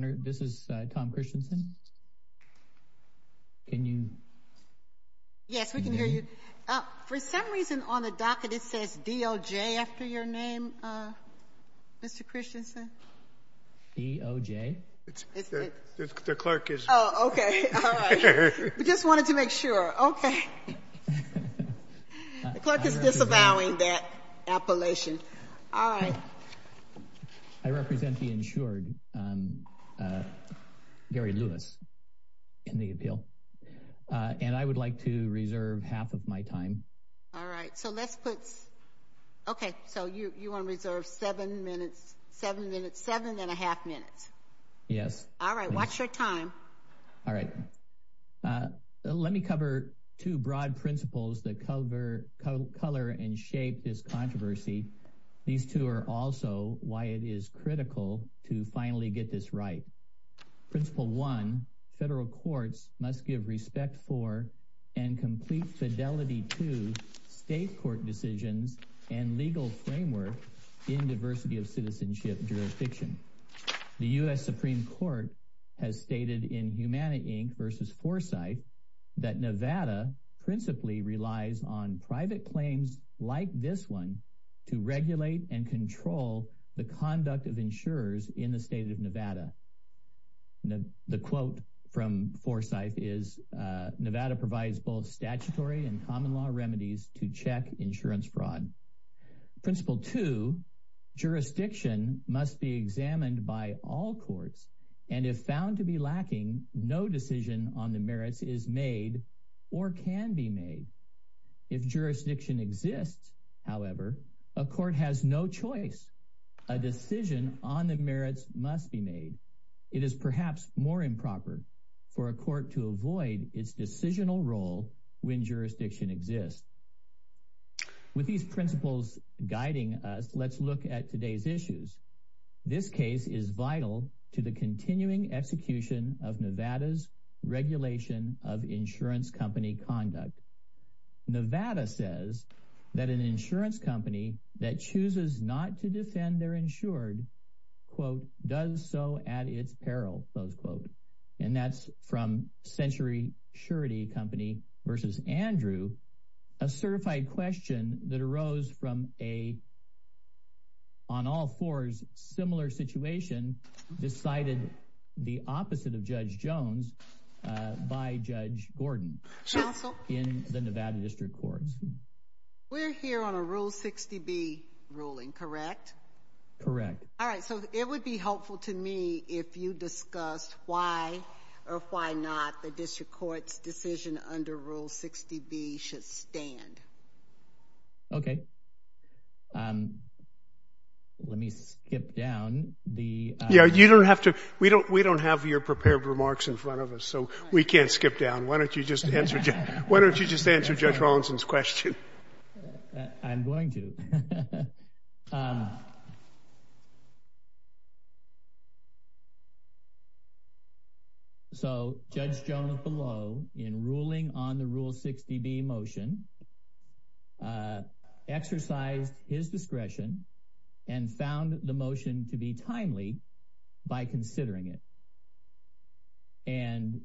This is Tom Christensen, can you? Yes, we can hear you. For some reason on the docket it says DOJ after your name, Mr. Christensen. DOJ? The clerk is. Oh, okay. All right. We just wanted to make sure. Okay. The clerk is disavowing that appellation. All right. I represent the insured, Gary Lewis, in the appeal. And I would like to reserve half of my time. All right. So let's put. Okay. So you want to reserve seven minutes, seven minutes, seven and a half minutes. Yes. All right. Watch your time. All right. Let me cover two broad principles that cover color and shape this controversy. These two are also why it is critical to finally get this right. Principle one, federal courts must give respect for and complete fidelity to state court decisions and legal framework in diversity of citizenship jurisdiction. The U.S. Supreme Court has stated in Humana, Inc. Versus Foresight that Nevada principally relies on private claims like this one to regulate and control the conduct of insurers in the state of Nevada. The quote from Foresight is Nevada provides both statutory and common law remedies to check insurance fraud. Principle two, jurisdiction must be examined by all courts. And if found to be lacking, no decision on the merits is made or can be made. If jurisdiction exists, however, a court has no choice. A decision on the merits must be made. It is perhaps more improper for a court to avoid its decisional role when jurisdiction exists. With these principles guiding us, let's look at today's issues. This case is vital to the continuing execution of Nevada's regulation of insurance company conduct. Nevada says that an insurance company that chooses not to defend their insured, quote, does so at its peril, close quote. And that's from Century Surety Company versus Andrew, a certified question that arose from a, on all fours, similar situation decided the opposite of Judge Jones by Judge Gordon in the Nevada District Courts. We're here on a Rule 60B ruling, correct? Correct. All right, so it would be helpful to me if you discussed why or why not the Okay. Let me skip down the Yeah, you don't have to. We don't have your prepared remarks in front of us, so we can't skip down. Why don't you just answer Judge Rawlinson's question? I'm going to. Okay. So Judge Jones below in ruling on the Rule 60B motion exercised his discretion and found the motion to be timely by considering it. And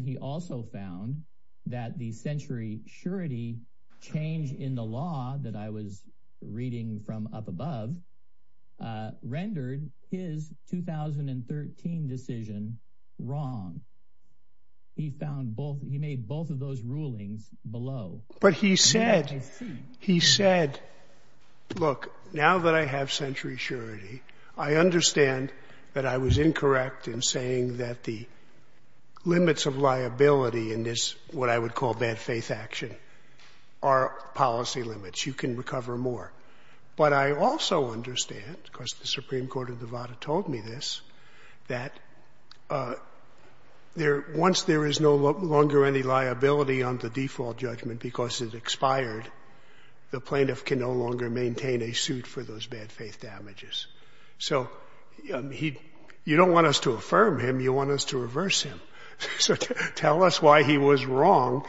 he also found that the Century Surety change in the law that I was reading from up above rendered his 2013 decision wrong. He found both, he made both of those rulings below. But he said, he said, look, now that I have Century Surety, I understand that I was incorrect in saying that the limits of liability in this, what I would call bad faith action, are policy limits. You can recover more. But I also understand, because the Supreme Court of Nevada told me this, that once there is no longer any liability on the default judgment because it expired, the plaintiff can no longer maintain a suit for those bad faith damages. So you don't want us to affirm him. You want us to reverse him. So tell us why he was wrong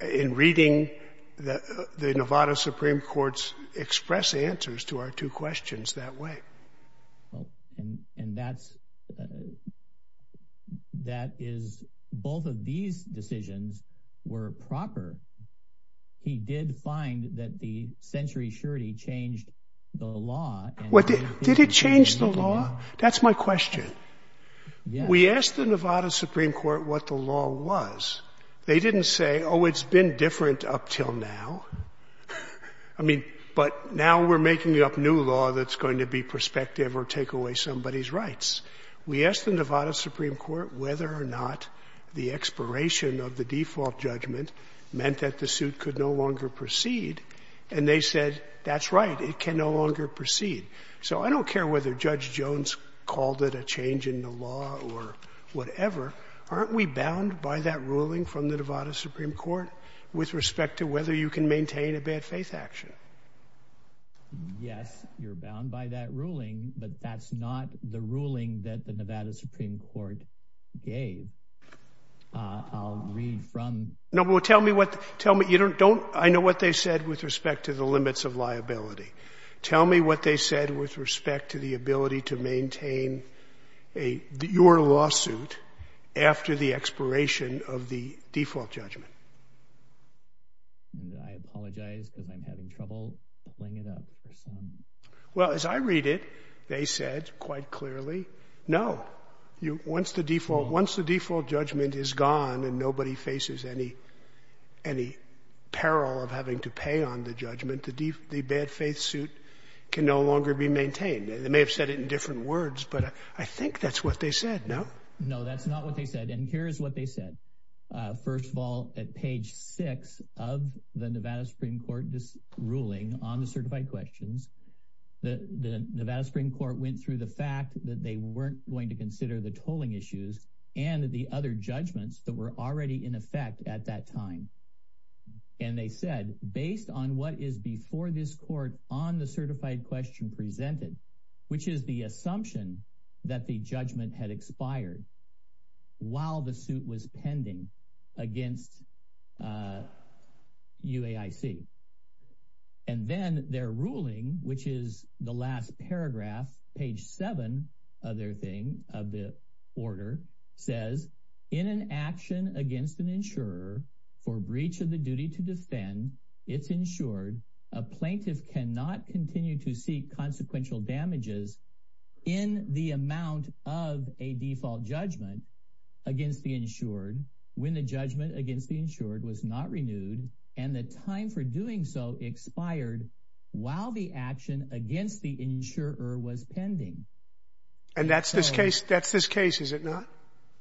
in reading the Nevada Supreme Court's express answers to our two questions that way. And that's, that is, both of these decisions were proper. He did find that the Century Surety changed the law. Did it change the law? That's my question. We asked the Nevada Supreme Court what the law was. They didn't say, oh, it's been different up till now. I mean, but now we're making up new law that's going to be prospective or take away somebody's rights. We asked the Nevada Supreme Court whether or not the expiration of the default judgment meant that the suit could no longer proceed, and they said, that's right, it can no longer proceed. So I don't care whether Judge Jones called it a change in the law or whatever. Aren't we bound by that ruling from the Nevada Supreme Court with respect to whether you can maintain a bad faith action? Yes, you're bound by that ruling, but that's not the ruling that the Nevada Supreme Court gave. I'll read from. No, but tell me what, tell me, you don't, I know what they said with respect to the limits of liability. Tell me what they said with respect to the ability to maintain a, your lawsuit after the expiration of the default judgment. I apologize because I'm having trouble pulling it up. Well, as I read it, they said quite clearly, no. Once the default, once the default judgment is gone and nobody faces any, any peril of having to pay on the judgment, the bad faith suit can no longer be maintained. They may have said it in different words, but I think that's what they said, no? No, that's not what they said. And here's what they said. First of all, at page six of the Nevada Supreme Court ruling on the certified questions, the Nevada Supreme Court went through the fact that they weren't going to consider the tolling issues and the other judgments that were already in effect at that time. And they said, based on what is before this court on the certified question presented, which is the assumption that the judgment had expired while the suit was pending against UAIC. And then their ruling, which is the last paragraph, page seven of their thing, of the order says in an action against an insurer for breach of the duty to defend it's insured, a plaintiff cannot continue to seek consequential damages in the amount of a default judgment against the insured. When the judgment against the insured was not renewed and the time for doing so expired while the action against the insurer was pending. And that's this case, that's this case, is it not?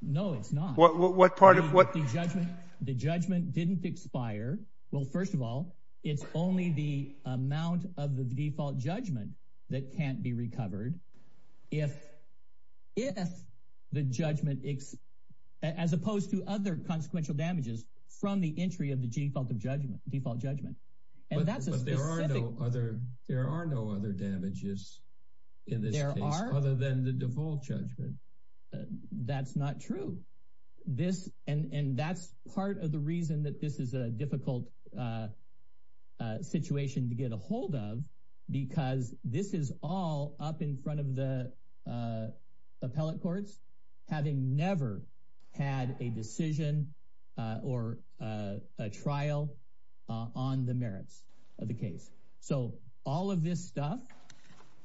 No, it's not. What part of what? The judgment, the judgment didn't expire. Well, first of all, it's only the amount of the default judgment that can't be recovered. If if the judgment as opposed to other consequential damages from the entry of the default of judgment, default judgment. But there are no other. There are no other damages in this case other than the default judgment. That's not true. This and that's part of the reason that this is a difficult situation to get a hold of, because this is all up in front of the appellate courts. Having never had a decision or a trial on the merits of the case. So all of this stuff.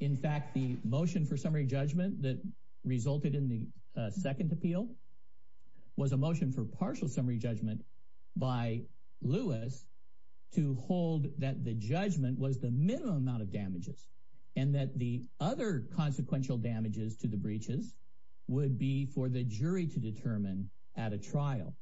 In fact, the motion for summary judgment that resulted in the second appeal was a motion for partial summary judgment by Lewis to hold that the judgment was the minimum amount and that the other consequential damages to the breaches would be for the jury to determine at a trial.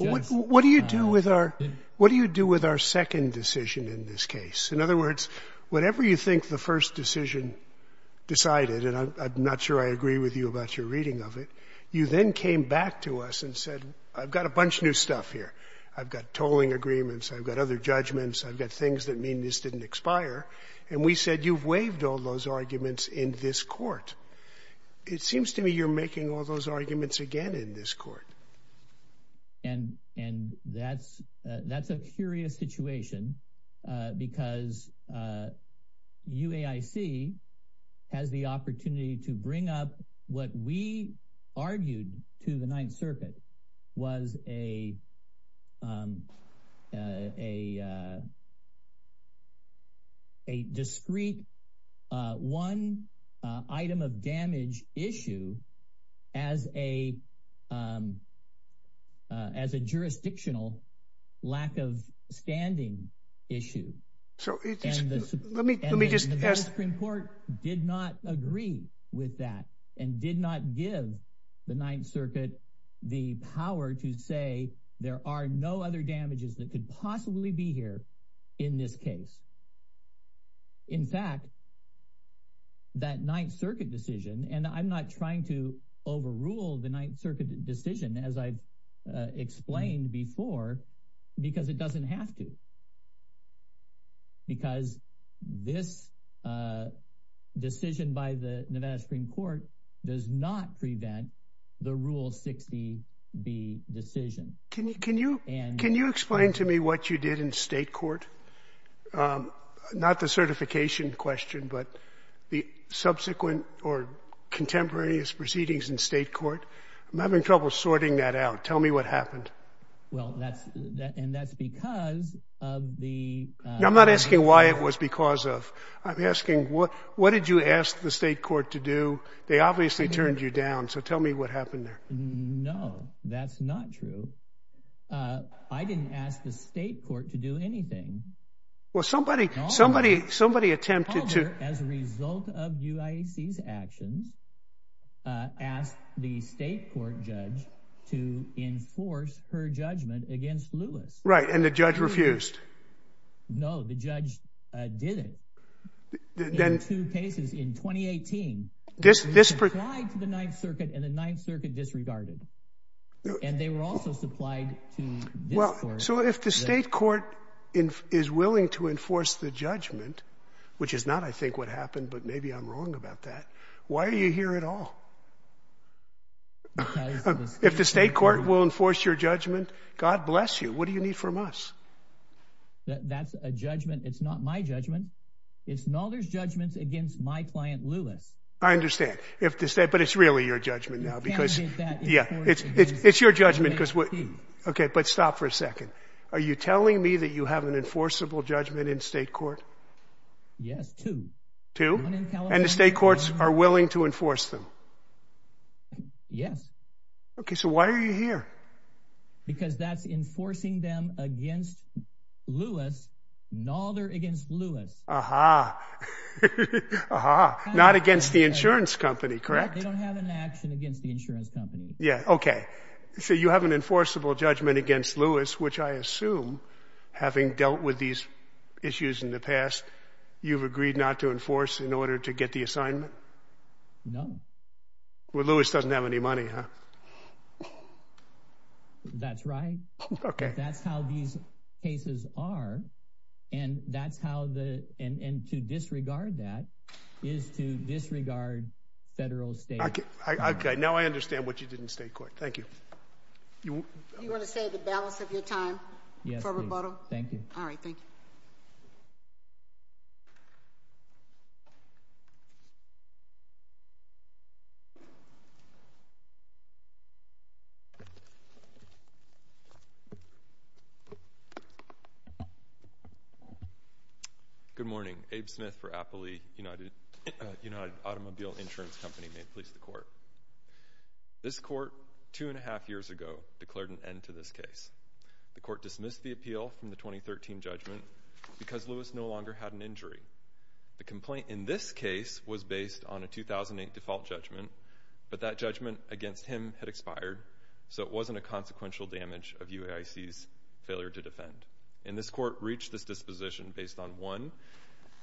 What do you do with our what do you do with our second decision in this case? In other words, whatever you think the first decision decided, and I'm not sure I agree with you about your reading of it. You then came back to us and said, I've got a bunch of new stuff here. I've got tolling agreements. I've got other judgments. I've got things that mean this didn't expire. And we said, you've waived all those arguments in this court. It seems to me you're making all those arguments again in this court. And and that's that's a curious situation, because you AIC has the opportunity to bring up what we argued to the Ninth Circuit was a a discreet one item of damage issue as a as a jurisdictional lack of standing issue. So let me just ask the Supreme Court did not agree with that and did not give the Ninth Circuit the power to say there are no other damages that could possibly be here in this case. In fact. That Ninth Circuit decision, and I'm not trying to overrule the Ninth Circuit decision, as I explained before, because it doesn't have to. Because this decision by the Nevada Supreme Court does not prevent the rule 60 B decision. Can you can you and can you explain to me what you did in state court? Not the certification question, but the subsequent or contemporaneous proceedings in state court. I'm having trouble sorting that out. Tell me what happened. Well, that's that. And that's because of the. I'm not asking why it was because of. I'm asking what what did you ask the state court to do? They obviously turned you down. So tell me what happened there. No, that's not true. I didn't ask the state court to do anything. Well, somebody, somebody, somebody attempted to. As a result of UAC's actions. Ask the state court judge to enforce her judgment against Lewis. Right. And the judge refused. No, the judge did it. Then two cases in 2018. This this to the Ninth Circuit and the Ninth Circuit disregarded. And they were also supplied to. Well, so if the state court is willing to enforce the judgment, which is not, I think, what happened. But maybe I'm wrong about that. Why are you here at all? If the state court will enforce your judgment. God bless you. What do you need from us? That's a judgment. It's not my judgment. It's another's judgments against my client, Lewis. I understand if the state. But it's really your judgment now because. Yeah, it's it's your judgment because. OK, but stop for a second. Are you telling me that you have an enforceable judgment in state court? Yes, to two. And the state courts are willing to enforce them. Yes. OK, so why are you here? Because that's enforcing them against Lewis. No, they're against Lewis. Aha. Aha. Not against the insurance company, correct? They don't have an action against the insurance company. So you have an enforceable judgment against Lewis, which I assume having dealt with these issues in the past, you've agreed not to enforce in order to get the assignment? No. Well, Lewis doesn't have any money, huh? That's right. OK, that's how these cases are. And that's how the and to disregard that is to disregard federal state. OK, now I understand what you did in state court. Thank you. You want to say the balance of your time for rebuttal? Yes, please. Thank you. All right, thank you. Good morning. Abe Smith for Appley United Automobile Insurance Company. May it please the Court. This Court, two and a half years ago, declared an end to this case. The Court dismissed the appeal from the 2013 judgment because Lewis no longer had an injury. The complaint in this case was based on a 2008 default judgment, but that judgment against him had expired, so it wasn't a consequential damage of UAIC's failure to defend. And this Court reached this disposition based on, one,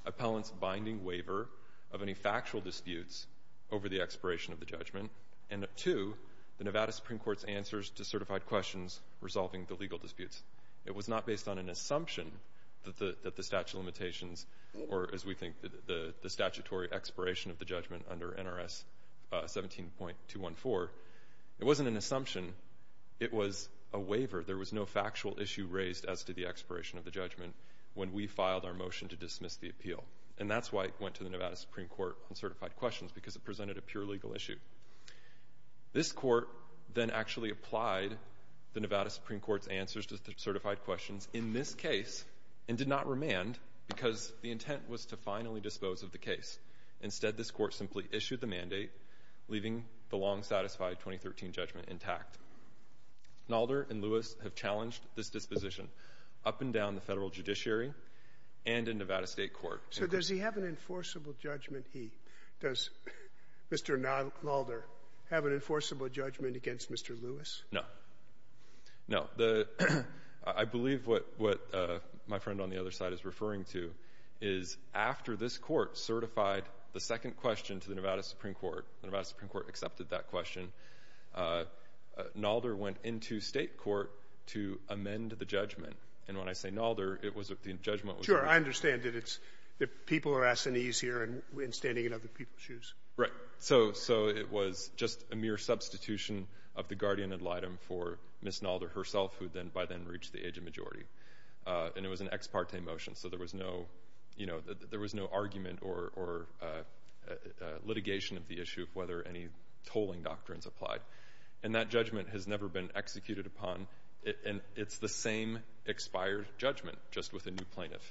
appellant's binding waiver of any factual disputes over the expiration of the judgment, and, two, the Nevada Supreme Court's answers to certified questions resolving the legal disputes. It was not based on an assumption that the statute of limitations or, as we think, the statutory expiration of the judgment under NRS 17.214. It wasn't an assumption. It was a waiver. There was no factual issue raised as to the expiration of the judgment when we filed our motion to dismiss the appeal. And that's why it went to the Nevada Supreme Court on certified questions, because it presented a pure legal issue. This Court then actually applied the Nevada Supreme Court's answers to certified questions in this case and did not remand because the intent was to finally dispose of the case. Instead, this Court simply issued the mandate, leaving the long-satisfied 2013 judgment intact. Nalder and Lewis have challenged this disposition up and down the federal judiciary and in Nevada State Court. So does he have an enforceable judgment? Does Mr. Nalder have an enforceable judgment against Mr. Lewis? No. No. I believe what my friend on the other side is referring to is, after this Court certified the second question to the Nevada Supreme Court, the Nevada Supreme Court accepted that question, Nalder went into state court to amend the judgment. And when I say Nalder, it was the judgment. Sure. I understand that people are asking these here and standing in other people's shoes. Right. So it was just a mere substitution of the guardian ad litem for Ms. Nalder herself, who then by then reached the age of majority. And it was an ex parte motion, so there was no, you know, there was no argument or litigation of the issue of whether any tolling doctrines applied. And that judgment has never been executed upon. And it's the same expired judgment, just with a new plaintiff.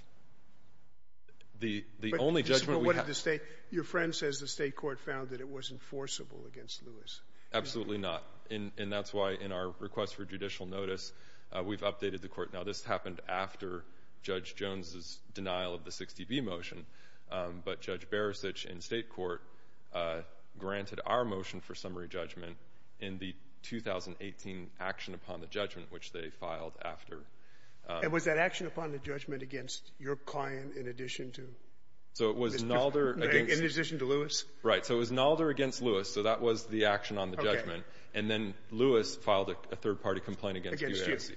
The only judgment we have... But what did the state, your friend says the state court found that it wasn't forcible against Lewis. Absolutely not. And that's why in our request for judicial notice, we've updated the court. Now, this happened after Judge Jones's denial of the 60B motion. But Judge Beresich in state court granted our motion for summary judgment in the 2018 action upon the judgment, which they filed after. And was that action upon the judgment against your client in addition to... So it was Nalder against... In addition to Lewis. Right. So it was Nalder against Lewis. So that was the action on the judgment. And then Lewis filed a third party complaint against UAC.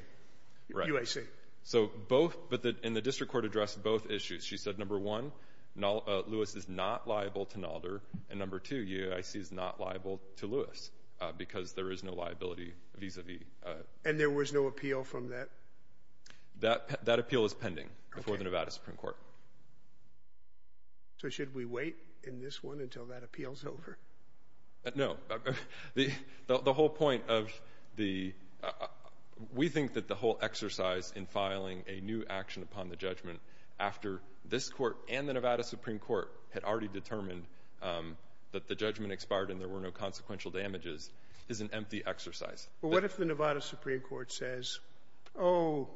UAC. So both, but in the district court addressed both issues. She said, number one, Lewis is not liable to Nalder. And number two, UAC is not liable to Lewis because there is no liability vis-a-vis. And there was no appeal from that? That appeal is pending before the Nevada Supreme Court. So should we wait in this one until that appeal's over? No. The whole point of the... We think that the whole exercise in filing a new action upon the judgment after this court and the Nevada Supreme Court had already determined that the judgment expired and there were no consequential damages is an empty exercise. But what if the Nevada Supreme Court says, oh,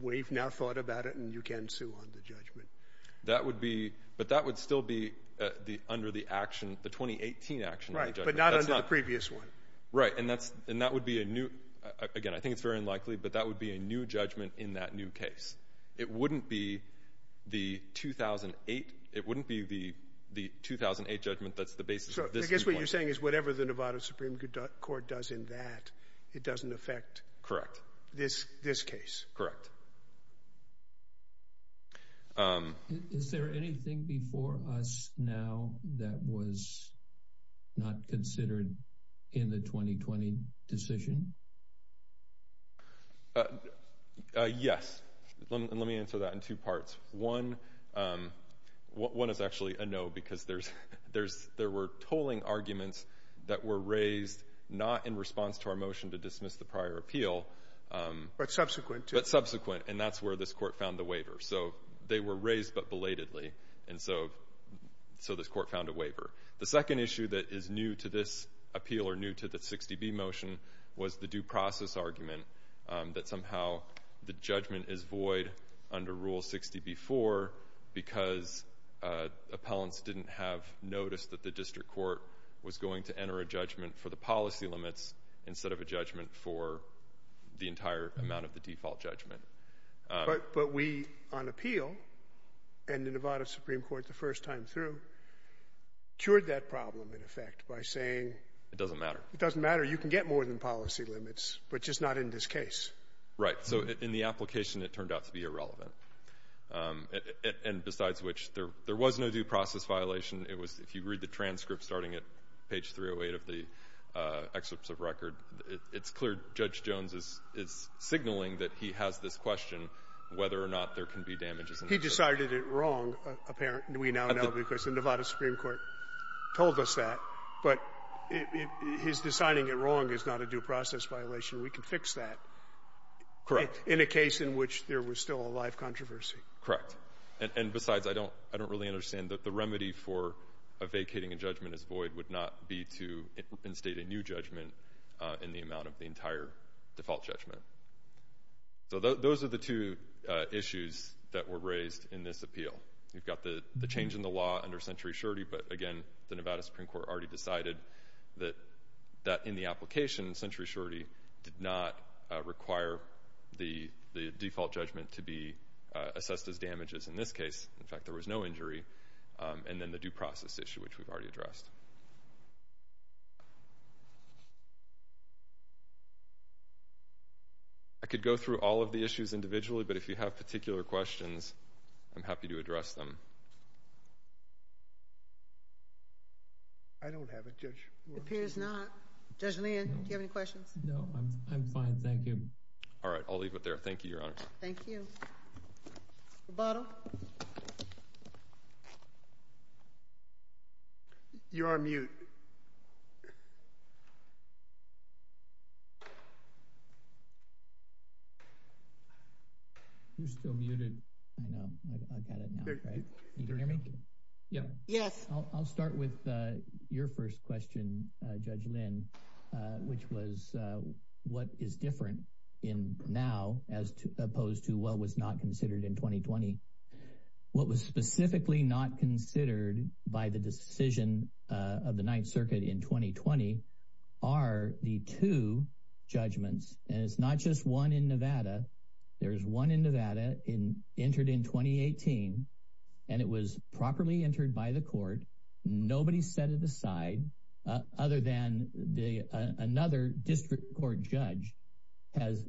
we've now thought about it and you can sue on the judgment? That would be, but that would still be under the action, the 2018 action on the judgment. Right. But not under the previous one. Right. And that would be a new, again, I think it's very unlikely, but that would be a new judgment in that new case. It wouldn't be the 2008, it wouldn't be the 2008 judgment that's the basis of this new one. So I guess what you're saying is whatever the Nevada Supreme Court does in that, it doesn't affect... Correct. This case. Correct. Is there anything before us now that was not considered in the 2020 decision? Yes. And let me answer that in two parts. One is actually a no because there were tolling arguments that were raised not in response to our motion to dismiss the prior appeal. But subsequent to. But subsequent, and that's where this court found the waiver. So they were raised but belatedly, and so this court found a waiver. The second issue that is new to this appeal or new to the 60B motion was the due process argument that somehow the judgment is void under Rule 60B4 because appellants didn't have notice that the district court was going to enter a judgment for the policy limits instead of a judgment for the entire amount of the default judgment. But we on appeal and the Nevada Supreme Court the first time through cured that problem in effect by saying... It doesn't matter. It doesn't matter. You can get more than policy limits, but just not in this case. Right. So in the application, it turned out to be irrelevant. And besides which, there was no due process violation. It was if you read the transcript starting at page 308 of the excerpts of record, it's clear Judge Jones is signaling that he has this question whether or not there can be damages. He decided it wrong, apparently. We now know because the Nevada Supreme Court told us that, but his deciding it wrong is not a due process violation. We can fix that. Correct. In a case in which there was still a live controversy. Correct. And besides, I don't really understand that the remedy for vacating a judgment as void would not be to instate a new judgment in the amount of the entire default judgment. So those are the two issues that were raised in this appeal. You've got the change in the law under century surety, but again, the Nevada Supreme Court already decided that in the application, century surety did not require the default judgment to be assessed as damages in this case. In fact, there was no injury. And then the due process issue, which we've already addressed. I could go through all of the issues individually, but if you have particular questions, I'm happy to address them. I don't have it. It appears not. Judge Lynn, do you have any questions? No. I'm fine. Thank you. All right. I'll leave it there. Thank you, Your Honor. Thank you. You're on mute. You're still muted. I've got it now. Can you hear me? Yes. I'll start with your first question, Judge Lynn. Which was what is different in now as opposed to what was not considered in 2020. What was specifically not considered by the decision of the Ninth Circuit in 2020 are the two judgments. And it's not just one in Nevada. There's one in Nevada entered in 2018, and it was properly entered by the court. Nobody set it aside other than another district court judge has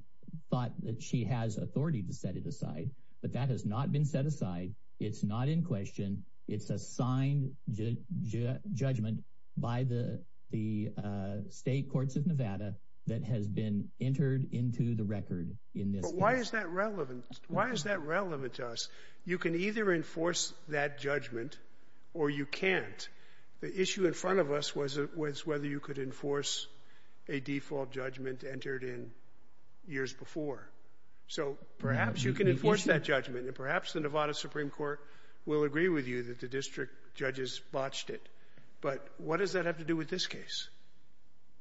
thought that she has authority to set it aside. But that has not been set aside. It's not in question. It's a signed judgment by the state courts of Nevada that has been entered into the record in this case. But why is that relevant? Why is that relevant to us? You can either enforce that judgment or you can't. The issue in front of us was whether you could enforce a default judgment entered in years before. So perhaps you can enforce that judgment, and perhaps the Nevada Supreme Court will agree with you that the district judges botched it. But what does that have to do with this case?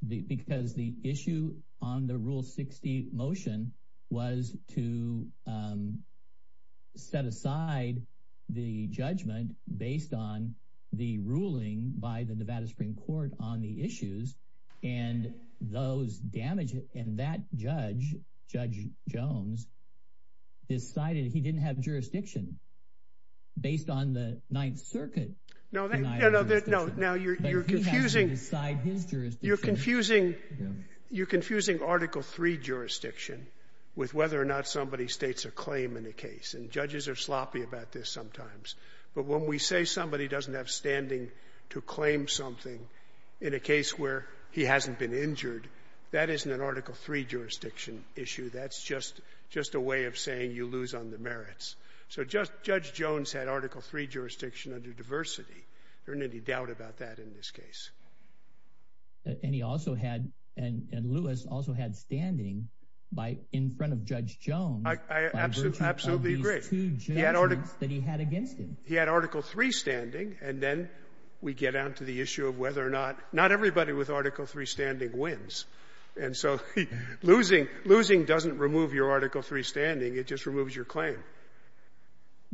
Because the issue on the Rule 60 motion was to set aside the judgment based on the ruling by the Nevada Supreme Court on the issues. And that judge, Judge Jones, decided he didn't have jurisdiction based on the Ninth Circuit. No, you're confusing Article 3 jurisdiction with whether or not somebody states a claim in a case. And judges are sloppy about this sometimes. But when we say somebody doesn't have standing to claim something in a case where he hasn't been injured, that isn't an Article 3 jurisdiction issue. That's just a way of saying you lose on the merits. So Judge Jones had Article 3 jurisdiction under diversity. There isn't any doubt about that in this case. And he also had – and Lewis also had standing in front of Judge Jones by virtue of these two judgments that he had against him. He had Article 3 standing, and then we get down to the issue of whether or not – not everybody with Article 3 standing wins. And so losing doesn't remove your Article 3 standing. It just removes your claim.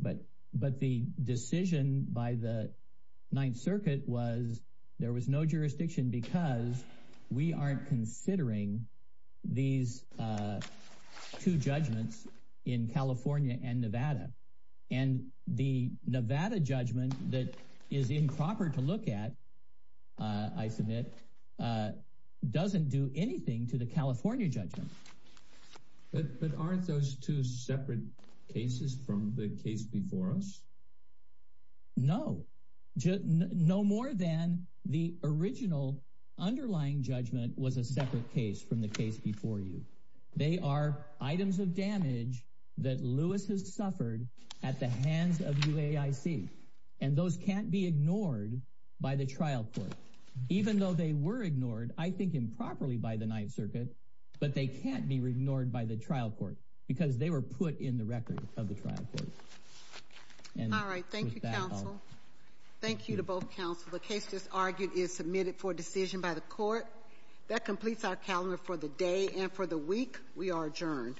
But the decision by the Ninth Circuit was there was no jurisdiction because we aren't considering these two judgments in California and Nevada. And the Nevada judgment that is improper to look at, I submit, doesn't do anything to the California judgment. But aren't those two separate cases from the case before us? No. No more than the original underlying judgment was a separate case from the case before you. They are items of damage that Lewis has suffered at the hands of UAIC, and those can't be ignored by the trial court. Even though they were ignored, I think, improperly by the Ninth Circuit, but they can't be ignored by the trial court because they were put in the record of the trial court. All right. Thank you, counsel. Thank you to both counsel. The case just argued is submitted for decision by the court. That completes our calendar for the day and for the week. We are adjourned.